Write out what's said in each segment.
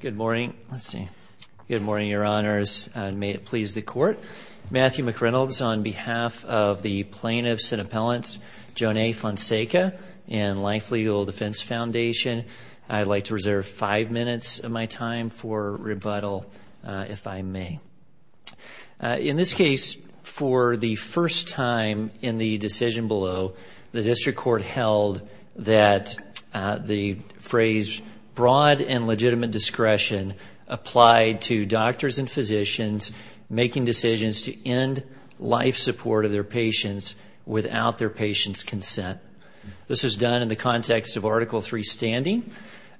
Good morning. Let's see. Good morning, your honors. May it please the court. Matthew McReynolds on behalf of the plaintiffs and appellants, Jonee Fonseca and Life Legal Defense Foundation, I'd like to reserve five minutes of my time for rebuttal if I may. In this case, for the discretion applied to doctors and physicians making decisions to end life support of their patients without their patient's consent. This was done in the context of Article 3 standing.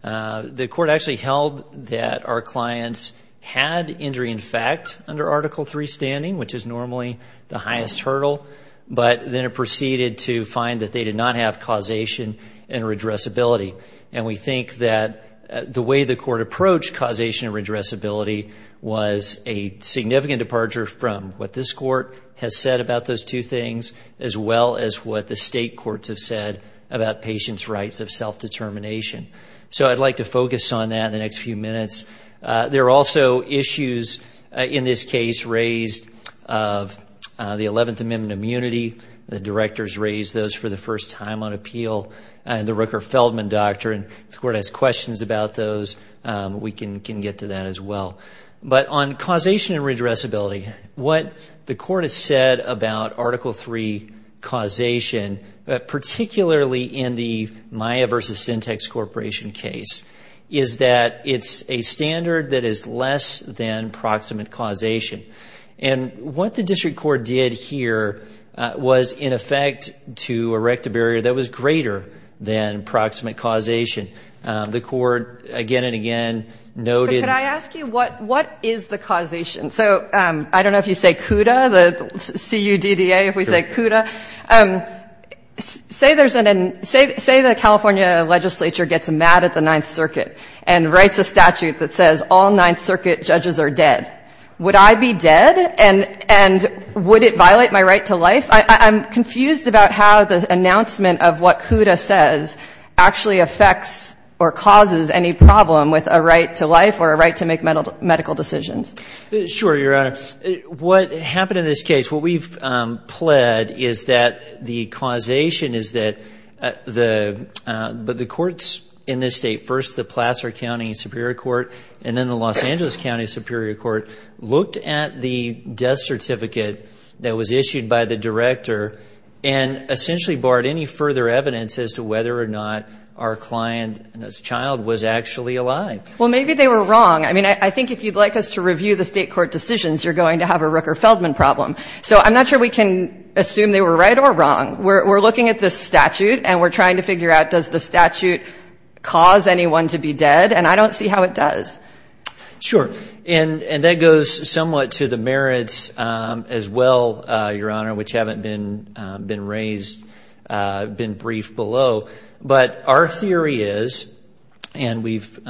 The court actually held that our clients had injury in fact under Article 3 standing, which is normally the highest hurdle, but then it proceeded to find that they did not have causation and redressability. And we think that the way the court approached causation and redressability was a significant departure from what this court has said about those two things as well as what the state courts have said about patients' rights of self-determination. So I'd like to focus on that in the next few minutes. There are also issues in this case raised of the 11th Amendment immunity. The directors raised those for the first time on appeal in the Rooker-Feldman Doctrine. If the court has questions about those, we can get to that as well. But on causation and redressability, what the court has said about Article 3 causation, particularly in the Maya v. Syntex Corporation case, is that it's a standard that is less than proximate causation. And what the district court did here was, in effect, to erect a barrier that was greater than proximate causation. The court again and again noted — But could I ask you, what is the causation? So I don't know if you say CUDA, the C-U-D-D-A, if we say CUDA. Say there's an — say the California legislature gets mad at the Ninth Circuit and writes a statute that says all Ninth Circuit judges are dead. Would I be able to highlight my right to life? I'm confused about how the announcement of what CUDA says actually affects or causes any problem with a right to life or a right to make medical decisions. Sure, Your Honor. What happened in this case, what we've pled is that the causation is that the — but the courts in this State, first the Placer County Superior Court and then the Los Angeles County Superior Court, looked at the death certificate that was issued by the director and essentially barred any further evidence as to whether or not our client and his child was actually alive. Well, maybe they were wrong. I mean, I think if you'd like us to review the State court decisions, you're going to have a Rooker-Feldman problem. So I'm not sure we can assume they were right or wrong. We're looking at this statute and we're trying to figure out, does the statute cause anyone to be dead? And I don't see how it does. Sure. And that goes somewhat to the merits as well, Your Honor, which haven't been raised, been briefed below. But our theory is, and we've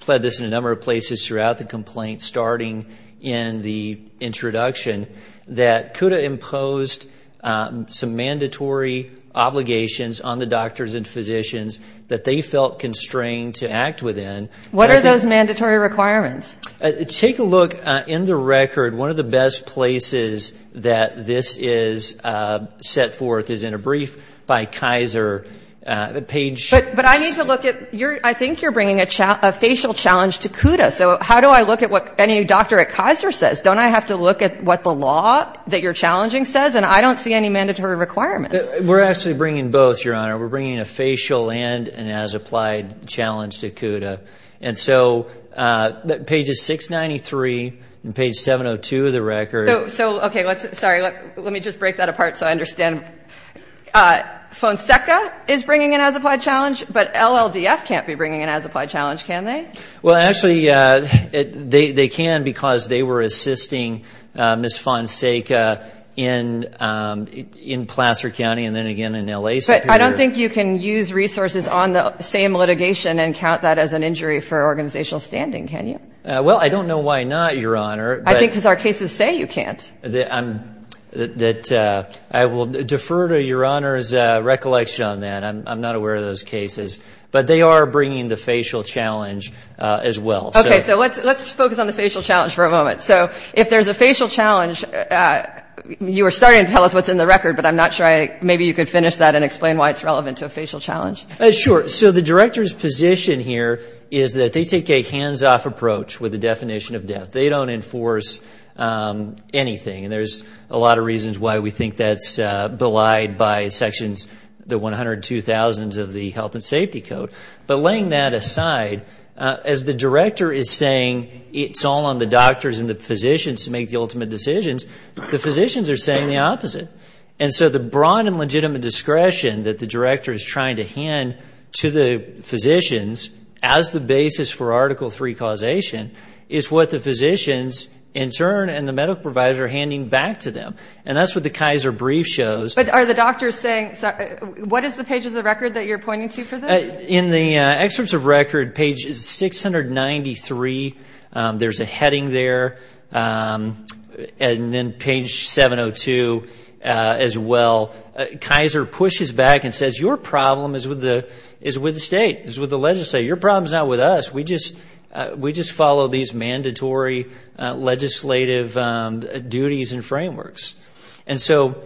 pled this in a number of places throughout the complaint, starting in the introduction, that CUDA imposed some mandatory obligations on the doctors and physicians that they felt constrained to act within. What are those mandatory requirements? Take a look in the record. One of the best places that this is set forth is in a brief by Kaiser, page 6. But I need to look at — I think you're bringing a facial challenge to CUDA. So how do I look at what any doctor at Kaiser says? Don't I have to look at what the law that you're challenging says? And I don't see any mandatory requirements. We're actually bringing both, Your Honor. We're bringing a facial and an as-applied challenge to CUDA. And so, pages 693 and page 702 of the record — So, okay, let's — sorry, let me just break that apart so I understand. Fonseca is bringing an as-applied challenge, but LLDF can't be bringing an as-applied challenge, can they? Well, actually, they can because they were assisting Ms. Fonseca in Placer County and then again in L.A. Superior. But I don't think you can use resources on the same litigation and count that as an injury for organizational standing, can you? Well, I don't know why not, Your Honor. I think because our cases say you can't. I will defer to Your Honor's recollection on that. I'm not aware of those cases. But they are bringing the facial challenge as well. Okay. So let's focus on the facial challenge for a moment. So if there's a facial challenge, you were starting to tell us what's in the record, but I'm not sure I — maybe you could finish that and explain why it's relevant to a facial challenge. Sure. So the Director's position here is that they take a hands-off approach with the definition of death. They don't enforce anything. And there's a lot of reasons why we think that's by sections — the 102,000s of the Health and Safety Code. But laying that aside, as the Director is saying it's all on the doctors and the physicians to make the ultimate decisions, the physicians are saying the opposite. And so the broad and legitimate discretion that the Director is trying to hand to the physicians as the basis for Article III causation is what the physicians in turn and the medical providers are handing back to them. And that's what the Kaiser brief shows. But are the doctors saying — what is the page of the record that you're pointing to for this? In the excerpts of record, page 693, there's a heading there. And then page 702 as well, Kaiser pushes back and says, your problem is with the state, is with the legislature. Your problem's not with us. We just follow these mandatory legislative duties and frameworks. And so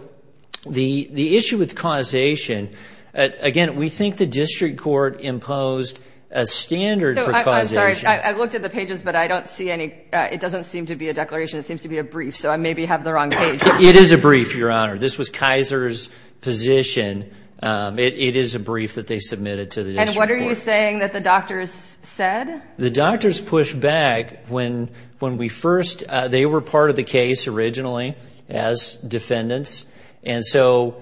the issue with causation — again, we think the district court imposed a standard for causation. I'm sorry. I looked at the pages, but I don't see any — it doesn't seem to be a declaration. It seems to be a brief. So I maybe have the wrong page. It is a brief, Your Honor. This was Kaiser's position. It is a brief that they submitted to the district court. And what are you saying that the doctors said? The doctors pushed back when we first — they were part of the case originally as defendants. And so,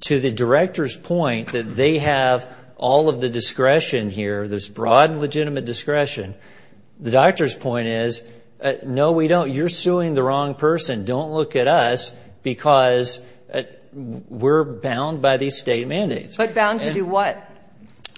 to the director's point that they have all of the discretion here, this broad legitimate discretion, the doctor's point is, no, we don't. You're suing the wrong person. Don't look at us because we're bound by these state mandates. But bound to do what?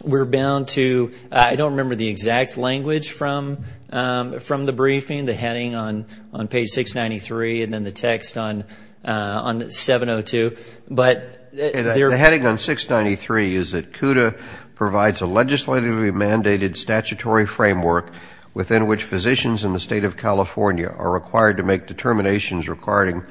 We're bound to — I don't remember the exact language from the briefing, the heading on page 693 and then the text on 702. But — The heading on 693 is that CUDA provides a legislatively mandated statutory framework within which physicians in the state of California are required to make determinations regarding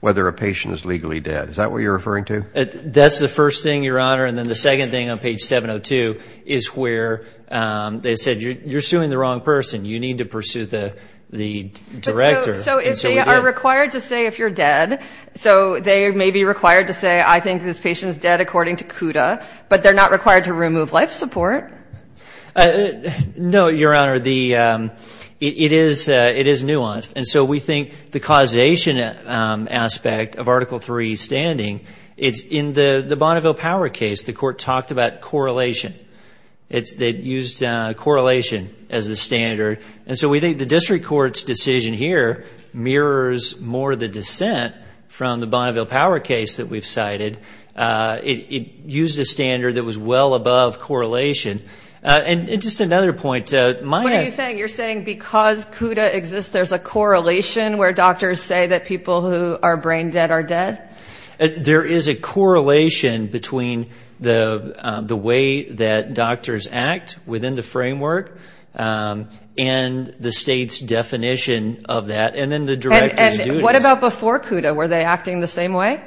whether a patient is legally dead. Is that what you're referring to? That's the first thing, Your Honor. And then the second thing on page 702 is where they said, you're suing the wrong person. You need to pursue the director. So, they are required to say if you're dead. So, they may be required to say, I think this patient is dead according to CUDA. But they're not required to remove life support. No, Your Honor. It is nuanced. And so, we think the causation aspect of Article III standing, it's in the Bonneville Power case. The court talked about correlation. It used correlation as the standard. And so, we think the district court's decision here mirrors more the dissent from the Bonneville Power case that we've cited. It used a standard that was well above correlation. And just another point, Maya — You're saying because CUDA exists, there's a correlation where doctors say that people who are brain dead are dead? There is a correlation between the way that doctors act within the framework and the state's definition of that. And then the director's duties. And what about before CUDA? Were they acting the same way?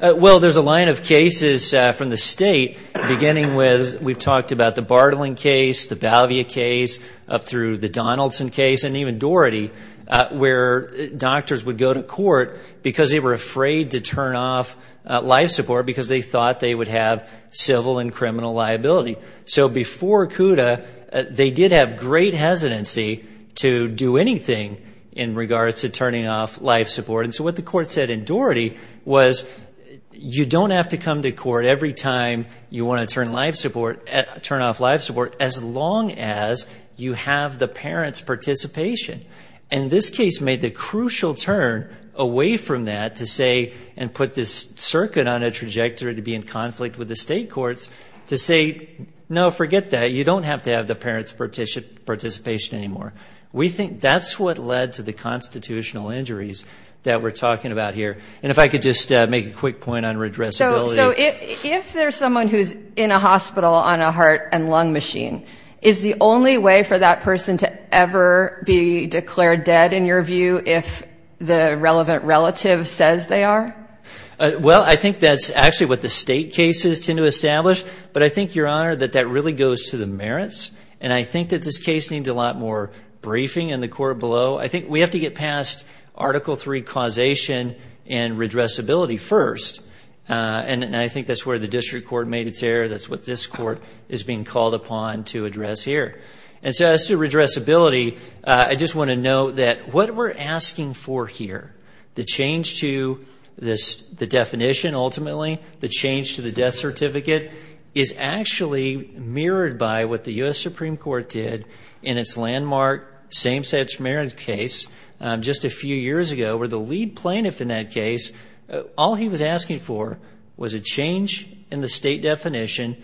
Well, there's a line of cases from the state beginning with — we've talked about the Bartling case, the Balvia case. Up through the Donaldson case and even Doherty where doctors would go to court because they were afraid to turn off life support because they thought they would have civil and criminal liability. So, before CUDA, they did have great hesitancy to do anything in regards to turning off life support. And so, what the court said in Doherty was you don't have to come to court every time you want to turn life support — you have the parents' participation. And this case made the crucial turn away from that to say — and put this circuit on a trajectory to be in conflict with the state courts — to say, no, forget that. You don't have to have the parents' participation anymore. We think that's what led to the constitutional injuries that we're talking about here. And if I could just make a quick point on redressability. So, if there's someone who's in a hospital on a heart and lung machine, is the only way for that person to ever be declared dead, in your view, if the relevant relative says they are? Well, I think that's actually what the state cases tend to establish. But I think, Your Honor, that that really goes to the merits. And I think that this case needs a lot more briefing in the court below. I think we have to get past Article III causation and redressability first. And I think that's where the district court made its error. That's what this court is being called upon to address here. And so, as to redressability, I just want to note that what we're asking for here — the change to the definition, ultimately, the change to the death certificate — is actually mirrored by what the U.S. Supreme Court did in its landmark same-sex marriage case just a few years ago, where the lead plaintiff in that case, all he was asking for was a change in the state definition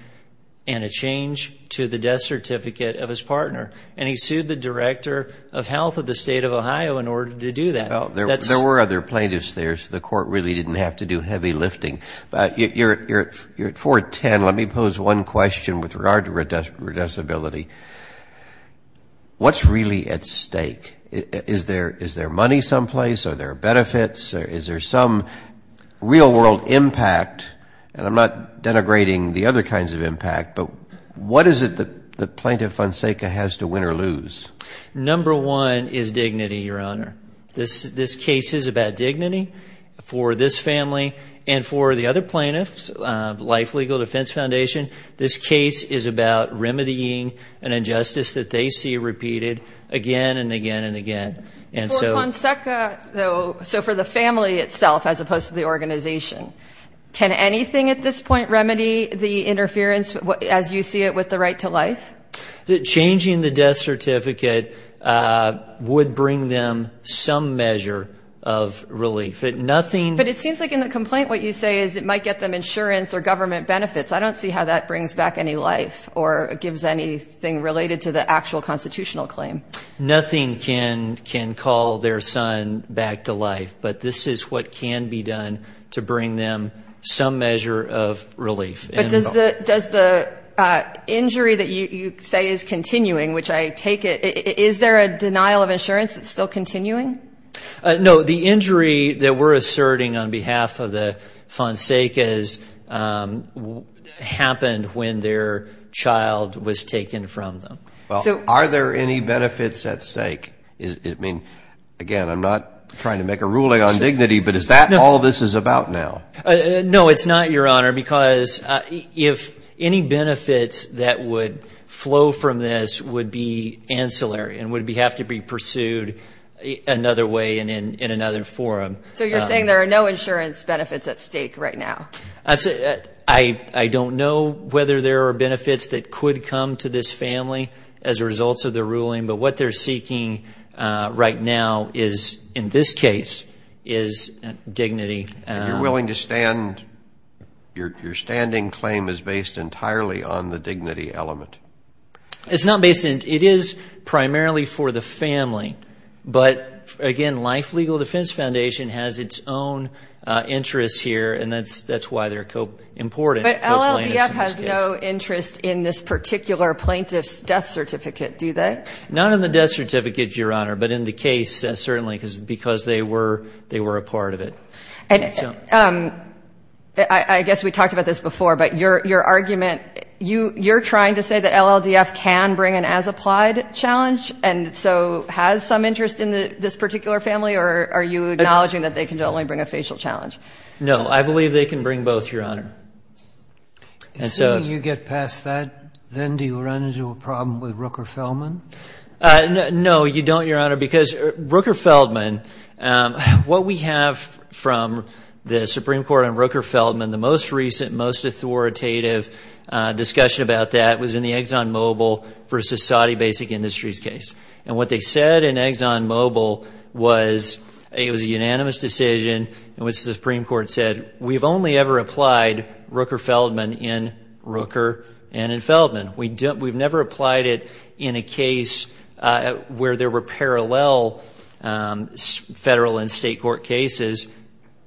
and a change to the death certificate of his partner. And he sued the Director of Health of the State of Ohio in order to do that. Well, there were other plaintiffs there, so the court really didn't have to do heavy lifting. But you're at 4-10. Let me pose one question with regard to redressability. What's really at stake? Is there money someplace? Are there benefits? Is there some real-world impact? And I'm not denigrating the other kinds of impact, but what is it that Plaintiff Fonseca has to win or lose? Number one is dignity, Your Honor. This case is about dignity for this family and for the other plaintiffs, Life Legal Defense Foundation. This case is about remedying an injustice that they see repeated again and again and again. For Fonseca, though, so for the family itself as opposed to the organization, can anything at this point remedy the interference, as you see it, with the right to life? Changing the death certificate would bring them some measure of relief. But it seems like in the complaint what you say is it might get them insurance or government benefits. I don't see how that brings back any life or gives anything related to the actual constitutional claim. Nothing can call their son back to life, but this is what can be done to bring them some measure of relief. But does the injury that you say is continuing, which I take it, is there a denial of insurance that's still continuing? No, the injury that we're asserting on behalf of the Fonsecas happened when their child was taken from them. Well, are there any benefits at stake? I mean, again, I'm not trying to make a ruling on dignity, but is that all this is about now? No, it's not, Your Honor, because if any benefits that would flow from this would be ancillary and would have to be pursued another way in another forum. So you're saying there are no insurance benefits at stake right now? I don't know whether there are benefits that could come to this family as a result of the ruling, but what they're seeking right now is, in this case, is dignity. And you're willing to stand your standing claim is based entirely on the dignity element? It's not based on dignity. It is primarily for the family. But, again, Life Legal Defense Foundation has its own interests here, and that's why they're important. But LLDF has no interest in this particular plaintiff's death certificate, do they? Not in the death certificate, Your Honor, but in the case, certainly, because they were a part of it. I guess we talked about this before, but your argument, you're trying to say that LLDF can bring an as-applied challenge, and so has some interest in this particular family, or are you acknowledging that they can only bring a facial challenge? No, I believe they can bring both, Your Honor. So when you get past that, then do you run into a problem with Rooker Feldman? No, you don't, Your Honor, because Rooker Feldman, what we have from the Supreme Court on Rooker Feldman, the most recent, most authoritative discussion about that was in the ExxonMobil versus Saudi Basic Industries case. And what they said in ExxonMobil was it was a unanimous decision in which the Supreme Court said, we've only ever applied Rooker Feldman in Rooker and in Feldman. We've never applied it in a case where there were parallel federal and state court cases,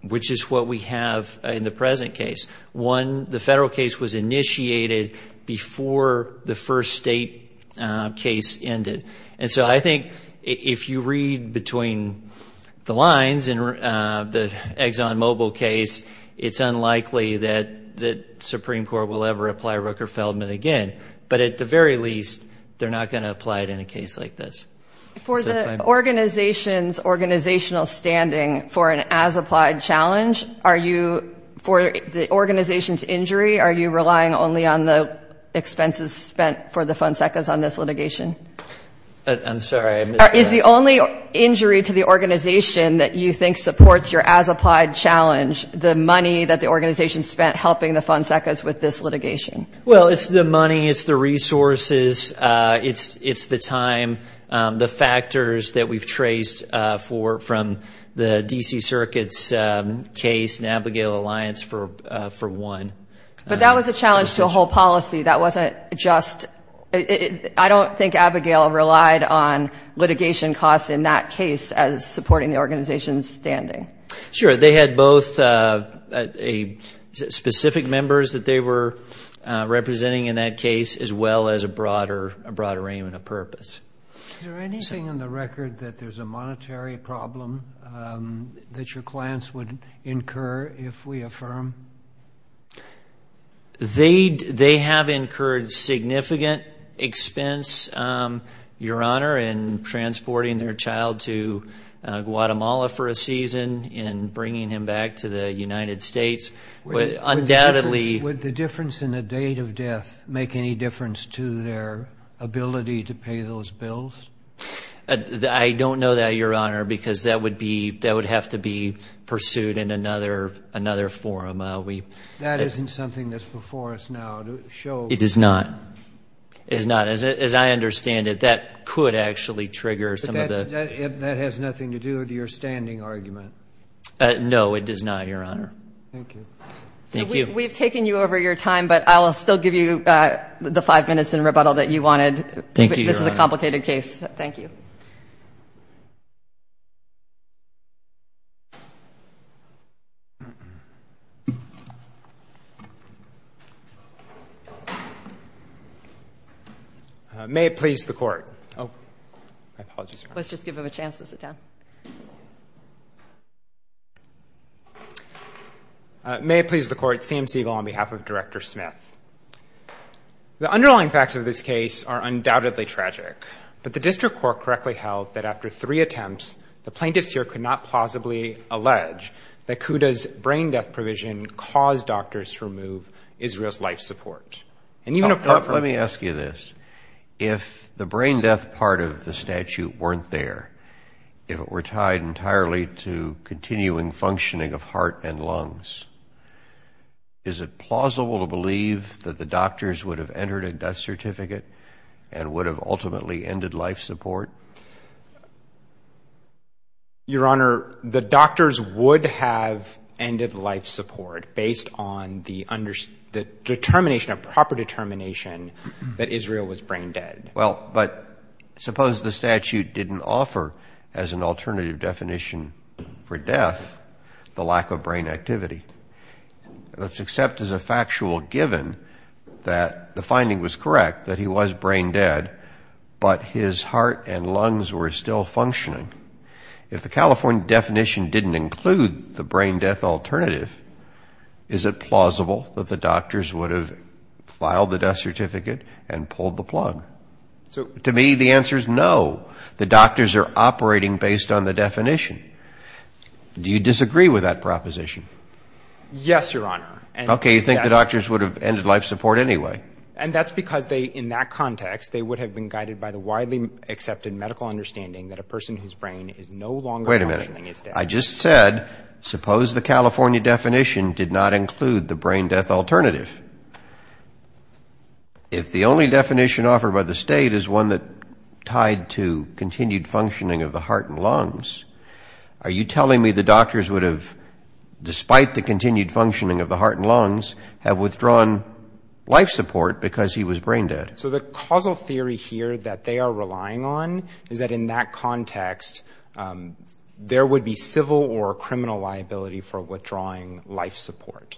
which is what we have in the present case. One, the federal case was initiated before the first state case ended. And so I think if you read between the lines in the ExxonMobil case, it's unlikely that the Supreme Court will ever apply Rooker Feldman again. But at the very least, they're not going to apply it in a case like this. For the organization's organizational standing for an as-applied challenge, are you, for the organization's injury, are you relying only on the expenses spent for the Fonsecas on this litigation? I'm sorry. Is the only injury to the organization that you think supports your as-applied challenge the money that the organization spent helping the Fonsecas with this litigation? Well, it's the money. It's the resources. It's the time, the factors that we've traced from the D.C. Circuit's case and Abigail Alliance for one. But that was a challenge to a whole policy. That wasn't just – I don't think Abigail relied on litigation costs in that case as supporting the organization's standing. Sure. They had both specific members that they were representing in that case as well as a broader aim and a purpose. Is there anything in the record that there's a monetary problem that your clients would incur if we affirm? They have incurred significant expense, Your Honor, in transporting their child to Guatemala for a season, in bringing him back to the United States. Would the difference in the date of death make any difference to their ability to pay those bills? I don't know that, Your Honor, because that would have to be pursued in another forum. That isn't something that's before us now to show. It is not. It is not. As I understand it, that could actually trigger some of the – But that has nothing to do with your standing argument. No, it does not, Your Honor. Thank you. Thank you. We've taken you over your time, but I'll still give you the five minutes in rebuttal that you wanted. Thank you, Your Honor. This is a complicated case. Thank you. May it please the Court. Oh, my apologies. Let's just give him a chance to sit down. May it please the Court, CM Siegel on behalf of Director Smith. The underlying facts of this case are undoubtedly tragic, but the district court correctly held that after three attempts, the plaintiffs here could not plausibly allege that Kuda's brain death provision caused doctors to remove Israel's life support. Let me ask you this. If the brain death part of the statute weren't there, if it were tied entirely to continuing functioning of heart and lungs, is it plausible to believe that the doctors would have entered a death certificate and would have ultimately ended life support? Your Honor, the doctors would have ended life support based on the determination, a proper determination, that Israel was brain dead. Well, but suppose the statute didn't offer, as an alternative definition for death, the lack of brain activity. Let's accept as a factual given that the finding was correct, that he was brain dead, but his heart and lungs were still functioning. If the California definition didn't include the brain death alternative, is it plausible that the doctors would have filed the death certificate and pulled the plug? To me, the answer is no. The doctors are operating based on the definition. Do you disagree with that proposition? Yes, Your Honor. Okay, you think the doctors would have ended life support anyway. And that's because they, in that context, they would have been guided by the widely accepted medical understanding that a person whose brain is no longer functioning is dead. Wait a minute. I just said, suppose the California definition did not include the brain death alternative. If the only definition offered by the state is one that tied to continued functioning of the heart and lungs, are you telling me the doctors would have, despite the continued functioning of the heart and lungs, have withdrawn life support because he was brain dead? So the causal theory here that they are relying on is that, in that context, there would be civil or criminal liability for withdrawing life support.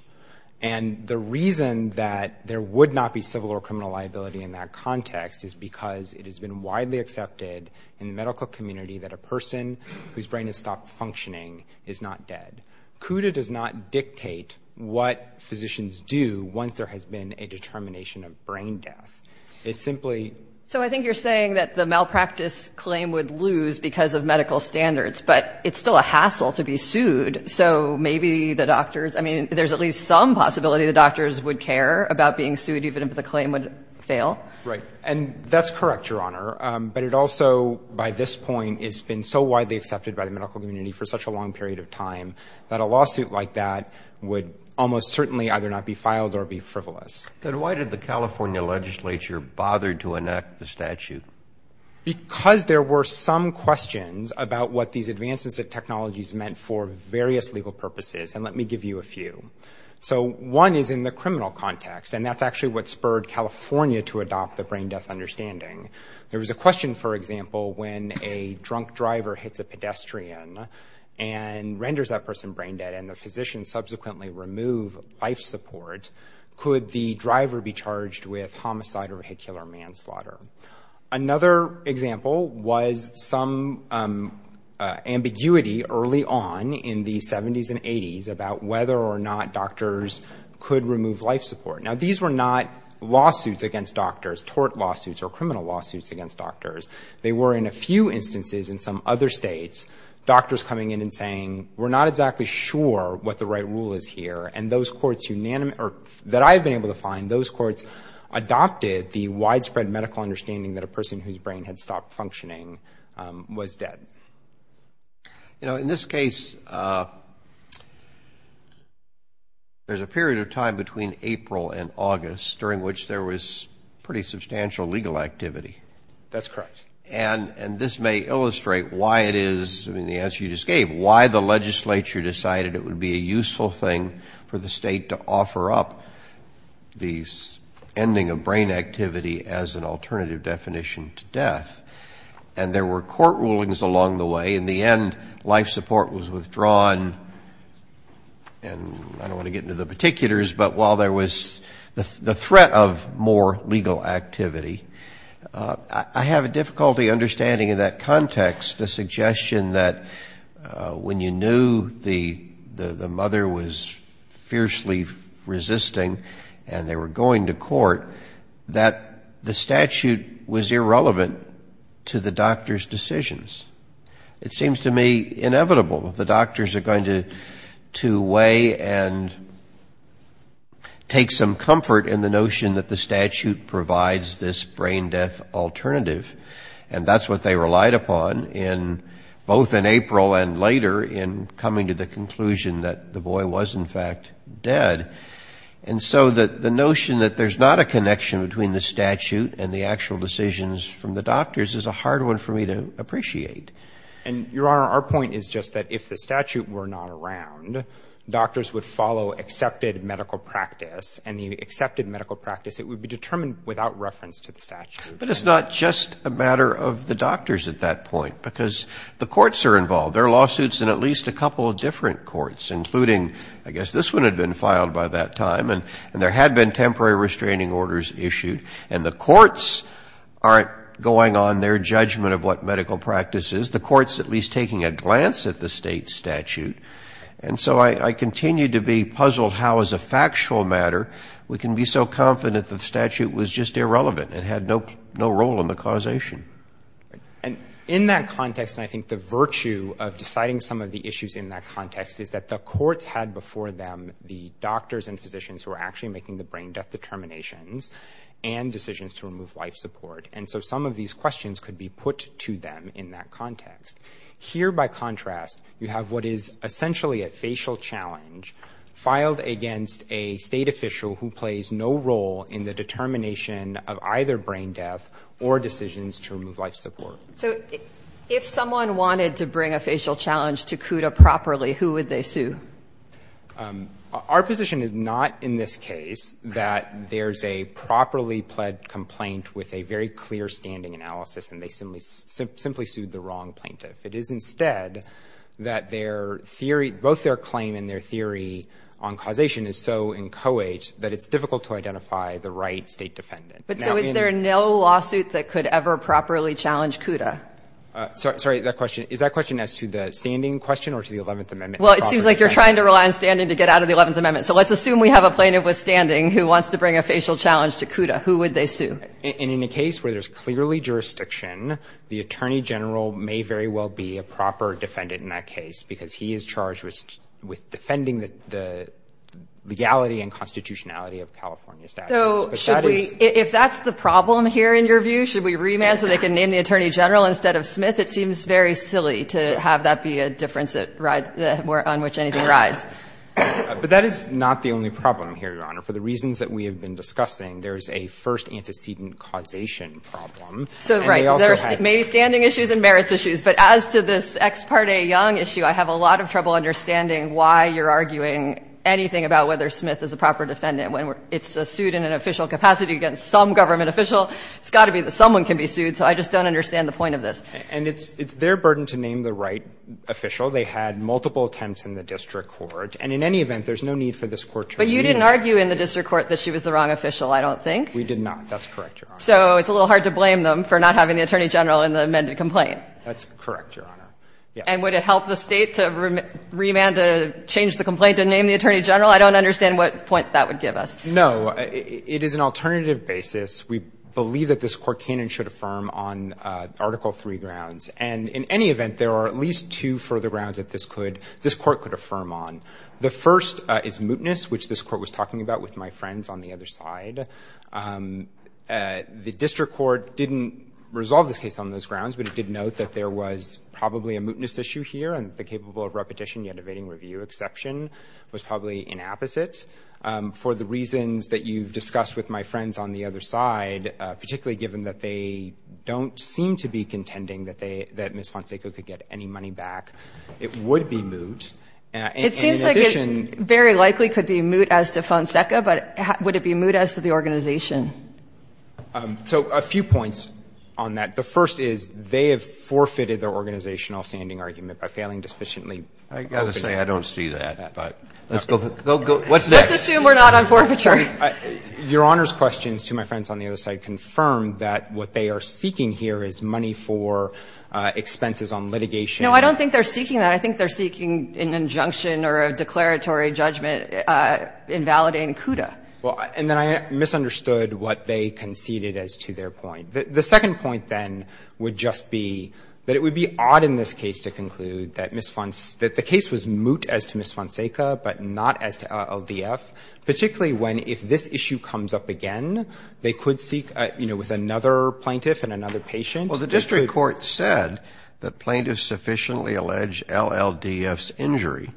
And the reason that there would not be civil or criminal liability in that context is because it has been widely accepted in the medical community that a person whose brain has stopped functioning is not dead. CUDA does not dictate what physicians do once there has been a determination of brain death. It simply— So I think you're saying that the malpractice claim would lose because of medical standards, but it's still a hassle to be sued, so maybe the doctors— I mean, there's at least some possibility the doctors would care about being sued, even if the claim would fail. Right. And that's correct, Your Honor, but it also, by this point, has been so widely accepted by the medical community for such a long period of time that a lawsuit like that would almost certainly either not be filed or be frivolous. Then why did the California legislature bother to enact the statute? Because there were some questions about what these advances in technologies meant for various legal purposes, and let me give you a few. So one is in the criminal context, and that's actually what spurred California to adopt the brain death understanding. There was a question, for example, when a drunk driver hits a pedestrian and renders that person brain dead and the physicians subsequently remove life support, could the driver be charged with homicide or vehicular manslaughter? Another example was some ambiguity early on in the 70s and 80s about whether or not doctors could remove life support. Now, these were not lawsuits against doctors, tort lawsuits or criminal lawsuits against doctors. They were, in a few instances in some other states, doctors coming in and saying, we're not exactly sure what the right rule is here, and those courts that I've been able to find, those courts adopted the widespread medical understanding that a person whose brain had stopped functioning was dead. You know, in this case, there's a period of time between April and August during which there was pretty substantial legal activity. That's correct. And this may illustrate why it is, I mean, the answer you just gave, why the legislature decided it would be a useful thing for the state to offer up the ending of brain activity as an alternative definition to death, and there were court rulings along the way. In the end, life support was withdrawn, and I don't want to get into the particulars, but while there was the threat of more legal activity, I have a difficulty understanding in that context the suggestion that when you knew the mother was fiercely resisting and they were going to court, that the statute was irrelevant to the doctor's decisions. It seems to me inevitable. The doctors are going to weigh and take some comfort in the notion that the statute provides this brain death alternative, and that's what they relied upon in both in April and later in coming to the conclusion that the boy was, in fact, dead. And so the notion that there's not a connection between the statute and the actual decisions from the doctors is a hard one for me to appreciate. And, Your Honor, our point is just that if the statute were not around, doctors would follow accepted medical practice, and the accepted medical practice, it would be determined without reference to the statute. But it's not just a matter of the doctors at that point, because the courts are involved. There are lawsuits in at least a couple of different courts, including, I guess, this one had been filed by that time, and there had been temporary restraining orders issued. And the courts aren't going on their judgment of what medical practice is. The court's at least taking a glance at the State statute. And so I continue to be puzzled how, as a factual matter, we can be so confident the statute was just irrelevant and had no role in the causation. And in that context, and I think the virtue of deciding some of the issues in that context, is that the courts had before them the doctors and physicians who were actually making the brain death determinations and decisions to remove life support. And so some of these questions could be put to them in that context. Here, by contrast, you have what is essentially a facial challenge filed against a State official who plays no role in the determination of either brain death or decisions to remove life support. So if someone wanted to bring a facial challenge to CUDA properly, who would they sue? Our position is not, in this case, that there's a properly pled complaint with a very clear standing analysis and they simply sued the wrong plaintiff. It is, instead, that both their claim and their theory on causation is so inchoate that it's difficult to identify the right State defendant. But so is there no lawsuit that could ever properly challenge CUDA? Sorry, is that question as to the standing question or to the 11th Amendment? Well, it seems like you're trying to rely on standing to get out of the 11th Amendment. So let's assume we have a plaintiff with standing who wants to bring a facial challenge to CUDA. Who would they sue? And in a case where there's clearly jurisdiction, the Attorney General may very well be a proper defendant in that case because he is charged with defending the legality and constitutionality of California statutes. So should we, if that's the problem here in your view, should we remand so they can name the Attorney General instead of Smith? It seems very silly to have that be a difference on which anything rides. But that is not the only problem here, Your Honor. For the reasons that we have been discussing, there is a first antecedent causation problem. So, right. There are maybe standing issues and merits issues. But as to this Ex parte Young issue, I have a lot of trouble understanding why you're arguing anything about whether there is an official capacity against some government official. It's got to be that someone can be sued. So I just don't understand the point of this. And it's their burden to name the right official. They had multiple attempts in the district court. And in any event, there's no need for this Court to remand. But you didn't argue in the district court that she was the wrong official, I don't think. We did not. That's correct, Your Honor. So it's a little hard to blame them for not having the Attorney General in the amended complaint. That's correct, Your Honor. Yes. And would it help the State to remand, to change the complaint, to name the Attorney General? I don't understand what point that would give us. No. It is an alternative basis. We believe that this Court can and should affirm on Article III grounds. And in any event, there are at least two further grounds that this Court could affirm on. The first is mootness, which this Court was talking about with my friends on the other side. The district court didn't resolve this case on those grounds, but it did note that there was probably a mootness issue here, and the capable of repetition yet evading review exception was probably inapposite. For the reasons that you've discussed with my friends on the other side, particularly given that they don't seem to be contending that they, that Ms. Fonseca could get any money back, it would be moot. It seems like it very likely could be moot as to Fonseca, but would it be moot as to the organization? So a few points on that. The first is they have forfeited their organizational standing argument by failing to sufficiently open it up. I've got to say I don't see that. But let's go. What's next? Let's assume we're not on forfeiture. Your Honor's questions to my friends on the other side confirm that what they are seeking here is money for expenses on litigation. No, I don't think they're seeking that. I think they're seeking an injunction or a declaratory judgment invalidating CUDA. And then I misunderstood what they conceded as to their point. The second point, then, would just be that it would be odd in this case to conclude that Ms. Fonseca, that the case was moot as to Ms. Fonseca but not as to LLDF, particularly when if this issue comes up again, they could seek, you know, with another plaintiff and another patient. Well, the district court said that plaintiffs sufficiently allege LLDF's injury.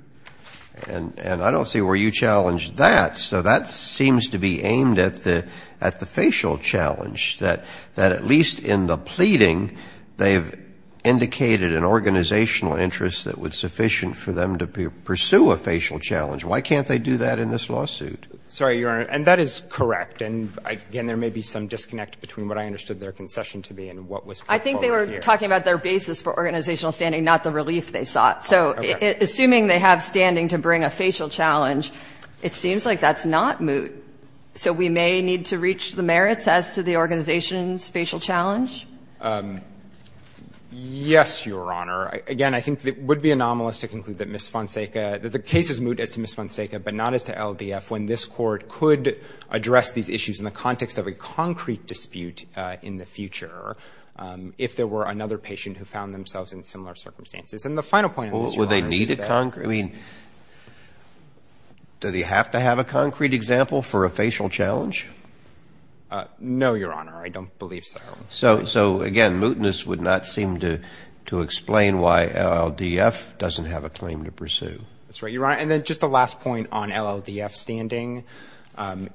And I don't see where you challenged that. So that seems to be aimed at the facial challenge, that at least in the pleading they've indicated an organizational interest that was sufficient for them to pursue a facial challenge. Why can't they do that in this lawsuit? Sorry, Your Honor. And that is correct. And, again, there may be some disconnect between what I understood their concession to be and what was put forward here. I think they were talking about their basis for organizational standing, not the relief they sought. So assuming they have standing to bring a facial challenge, it seems like that's not moot. So we may need to reach the merits as to the organization's facial challenge? Yes, Your Honor. Again, I think it would be anomalous to conclude that Ms. Fonseca — that the case is moot as to Ms. Fonseca, but not as to LDF, when this Court could address these issues in the context of a concrete dispute in the future if there were another patient who found themselves in similar circumstances. And the final point on this, Your Honor, is that — Well, would they need a concrete — I mean, do they have to have a concrete example for a facial challenge? No, Your Honor. I don't believe so. So, again, mootness would not seem to explain why LLDF doesn't have a claim to pursue. That's right, Your Honor. And then just the last point on LLDF standing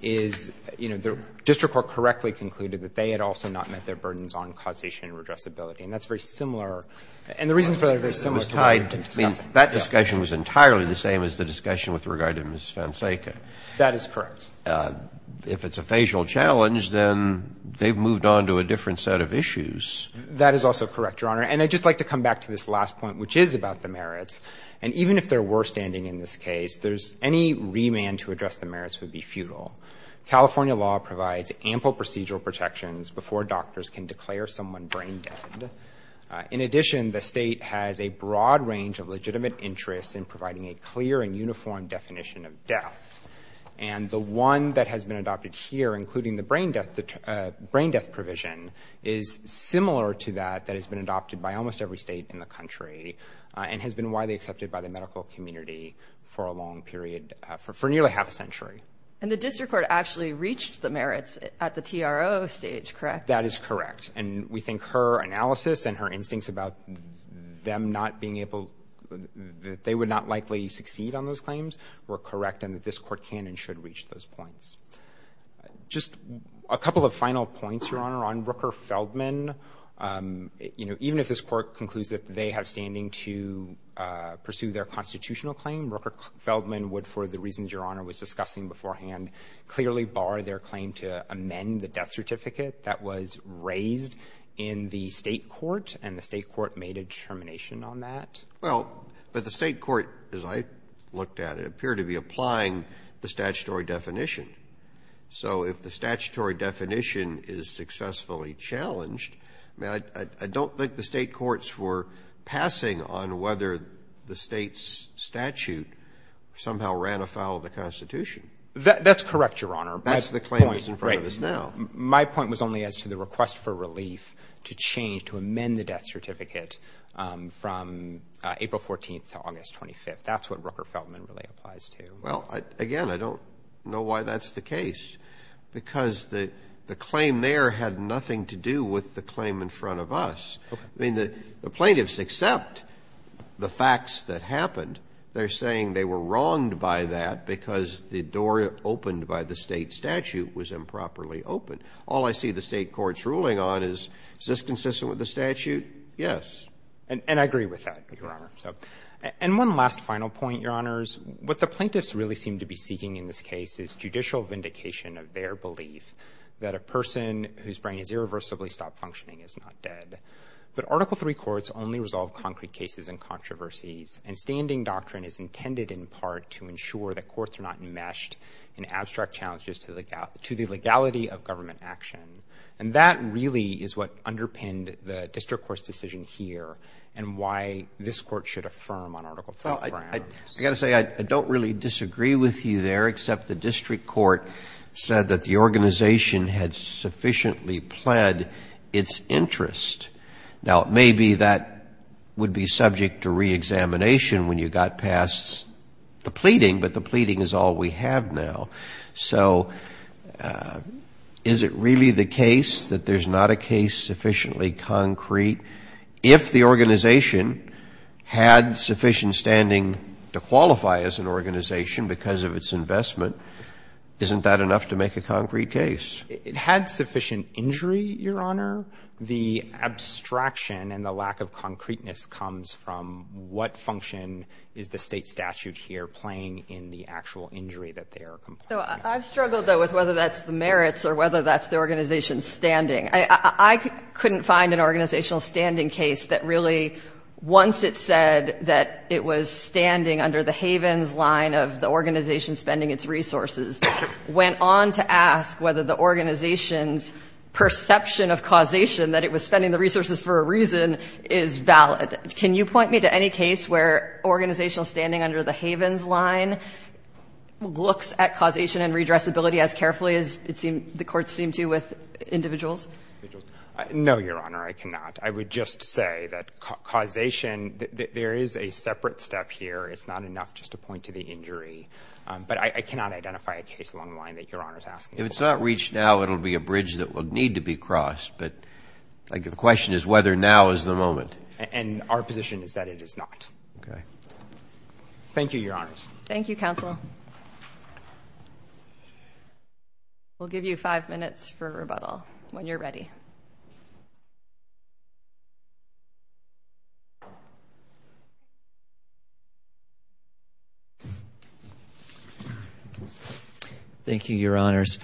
is, you know, the district court correctly concluded that they had also not met their burdens on causation and redressability. And that's very similar. And the reasons for that are very similar to what we've been discussing. That discussion was entirely the same as the discussion with regard to Ms. Fonseca. That is correct. If it's a facial challenge, then they've moved on to a different set of issues. That is also correct, Your Honor. And I'd just like to come back to this last point, which is about the merits. And even if there were standing in this case, there's — any remand to address the merits would be futile. California law provides ample procedural protections before doctors can declare someone brain-dead. In addition, the State has a broad range of legitimate interests in providing a clear and uniform definition of death. And the one that has been adopted here, including the brain death provision, is similar to that that has been adopted by almost every state in the country and has been widely accepted by the medical community for a long period — for nearly half a century. And the district court actually reached the merits at the TRO stage, correct? That is correct. And we think her analysis and her instincts about them not being able — that they would not likely succeed on those claims were correct and that this Court can and should reach those points. Just a couple of final points, Your Honor, on Rooker-Feldman. You know, even if this Court concludes that they have standing to pursue their constitutional claim, Rooker-Feldman would, for the reasons Your Honor was discussing beforehand, clearly bar their claim to amend the death certificate that was raised in the State court, and the State court made a determination on that. Well, but the State court, as I looked at it, appeared to be applying the statutory definition. So if the statutory definition is successfully challenged, I don't think the State courts were passing on whether the State's statute somehow ran afoul of the Constitution. That's correct, Your Honor. That's the claim that's in front of us now. My point was only as to the request for relief to change — from April 14th to August 25th. That's what Rooker-Feldman really applies to. Well, again, I don't know why that's the case, because the claim there had nothing to do with the claim in front of us. Okay. I mean, the plaintiffs accept the facts that happened. They're saying they were wronged by that because the door opened by the State statute was improperly opened. Yes. And I agree with that, Your Honor. And one last final point, Your Honors. What the plaintiffs really seem to be seeking in this case is judicial vindication of their belief that a person whose brain has irreversibly stopped functioning is not dead. But Article III courts only resolve concrete cases and controversies, and standing doctrine is intended in part to ensure that courts are not enmeshed in abstract challenges to the legality of government action. And that really is what underpinned the district court's decision here and why this court should affirm on Article III. Well, I've got to say, I don't really disagree with you there, except the district court said that the organization had sufficiently pled its interest. Now, maybe that would be subject to reexamination when you got past the pleading, but the pleading is all we have now. So is it really the case that there's not a case sufficiently concrete? If the organization had sufficient standing to qualify as an organization because of its investment, isn't that enough to make a concrete case? It had sufficient injury, Your Honor. The abstraction and the lack of concreteness comes from what function is the State I've struggled, though, with whether that's the merits or whether that's the organization's standing. I couldn't find an organizational standing case that really, once it said that it was standing under the havens line of the organization spending its resources, went on to ask whether the organization's perception of causation, that it was spending the resources for a reason, is valid. Can you point me to any case where organizational standing under the havens line looks at causation and redressability as carefully as the courts seem to with individuals? No, Your Honor, I cannot. I would just say that causation, there is a separate step here. It's not enough just to point to the injury. But I cannot identify a case along the line that Your Honor is asking about. If it's not reached now, it will be a bridge that will need to be crossed. But the question is whether now is the moment. And our position is that it is not. Okay. Thank you, Your Honors. Thank you, Counsel. We'll give you five minutes for rebuttal when you're ready. Thank you, Your Honors.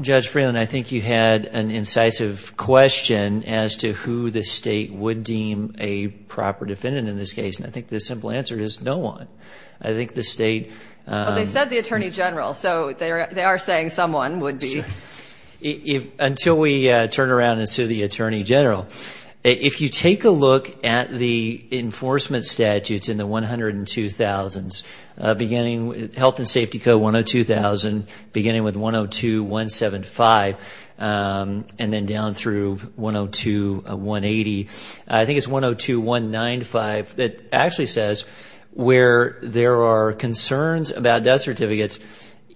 Judge Freeland, I think you had an incisive question as to who the state would deem a proper defendant in this case. And I think the simple answer is no one. I think the state... Well, they said the Attorney General, so they are saying someone would be... Until we turn around and sue the Attorney General, if you take a look at the enforcement statutes in the 102,000s, beginning with Health and Safety Code 102,000, beginning with 102,175, and then down through 102,180. I think it's 102,195 that actually says where there are concerns about death certificates,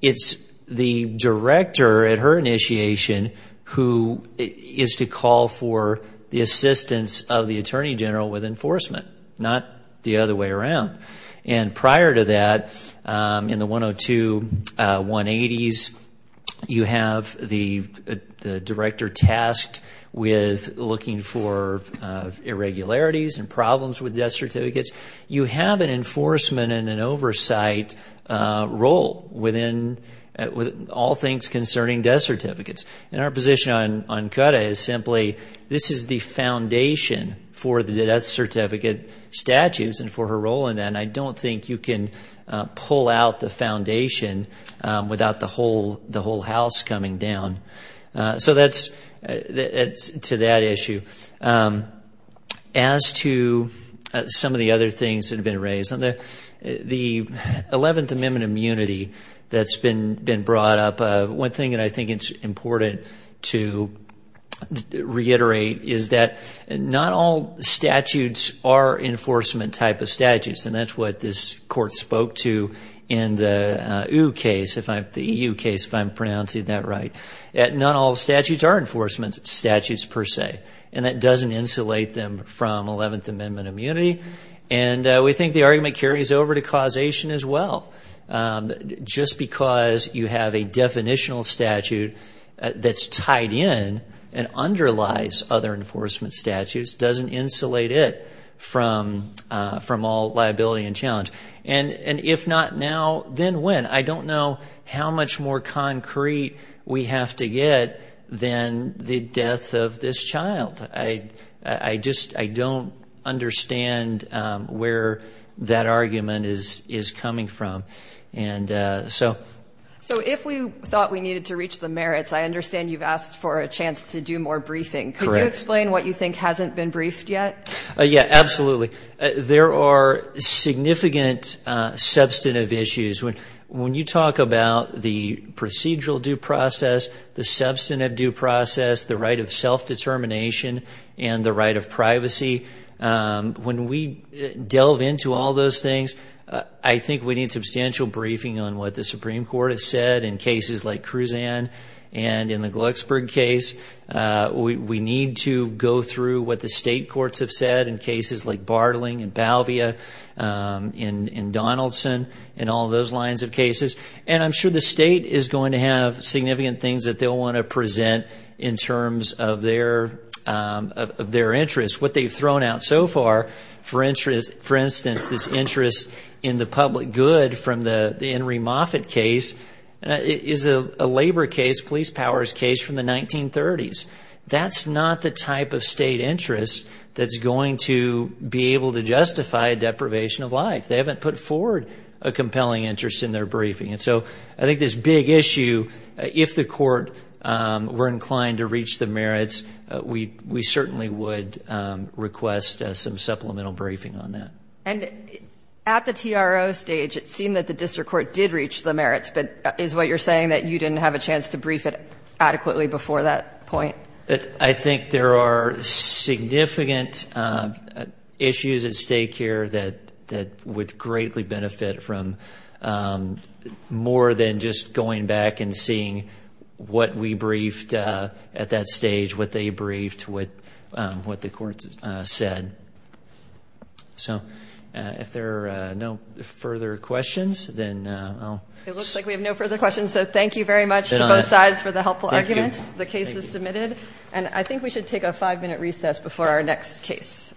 it's the director at her initiation who is to call for the assistance of the Attorney General with enforcement, not the other way around. And prior to that, in the 102,180s, you have the director tasked with looking for irregularities and problems with death certificates. You have an enforcement and an oversight role within all things concerning death certificates. And our position on Cutta is simply this is the foundation for the death certificate statutes and for her role in that. And I don't think you can pull out the foundation without the whole house coming down. So that's to that issue. As to some of the other things that have been raised, the 11th Amendment immunity that's been brought up, one thing that I think it's important to reiterate is that not all statutes are enforcement type of statutes. And that's what this court spoke to in the EU case, if I'm pronouncing that right. Not all statutes are enforcement statutes per se. And that doesn't insulate them from 11th Amendment immunity. And we think the argument carries over to causation as well. Just because you have a definitional statute that's tied in and underlies other enforcement statutes doesn't insulate it from all liability and challenge. And if not now, then when? I don't know how much more concrete we have to get than the death of this child. I just don't understand where that argument is coming from. So if we thought we needed to reach the merits, I understand you've asked for a chance to do more briefing. Correct. Could you explain what you think hasn't been briefed yet? Yeah, absolutely. There are significant substantive issues. When you talk about the procedural due process, the substantive due process, the right of self-determination, and the right of privacy, when we delve into all those things, I think we need substantial briefing on what the Supreme Court has said in cases like Kruzan and in the Glucksburg case. We need to go through what the state courts have said in cases like Bartling and Balvia and Donaldson and all those lines of cases. And I'm sure the state is going to have significant things that they'll want to present in terms of their interests. What they've thrown out so far, for instance, this interest in the public good from the Henry Moffitt case, is a labor case, police powers case from the 1930s. That's not the type of state interest that's going to be able to justify deprivation of life. They haven't put forward a compelling interest in their briefing. And so I think this big issue, if the court were inclined to reach the merits, we certainly would request some supplemental briefing on that. And at the TRO stage, it seemed that the district court did reach the merits, but is what you're saying that you didn't have a chance to brief it adequately before that point? I think there are significant issues at stake here that would greatly benefit from more than just going back and seeing what we briefed at that stage, what they briefed, what the court said. So if there are no further questions, then I'll stop. It looks like we have no further questions, so thank you very much to both sides for the helpful arguments. The case is submitted, and I think we should take a five-minute recess before our next case.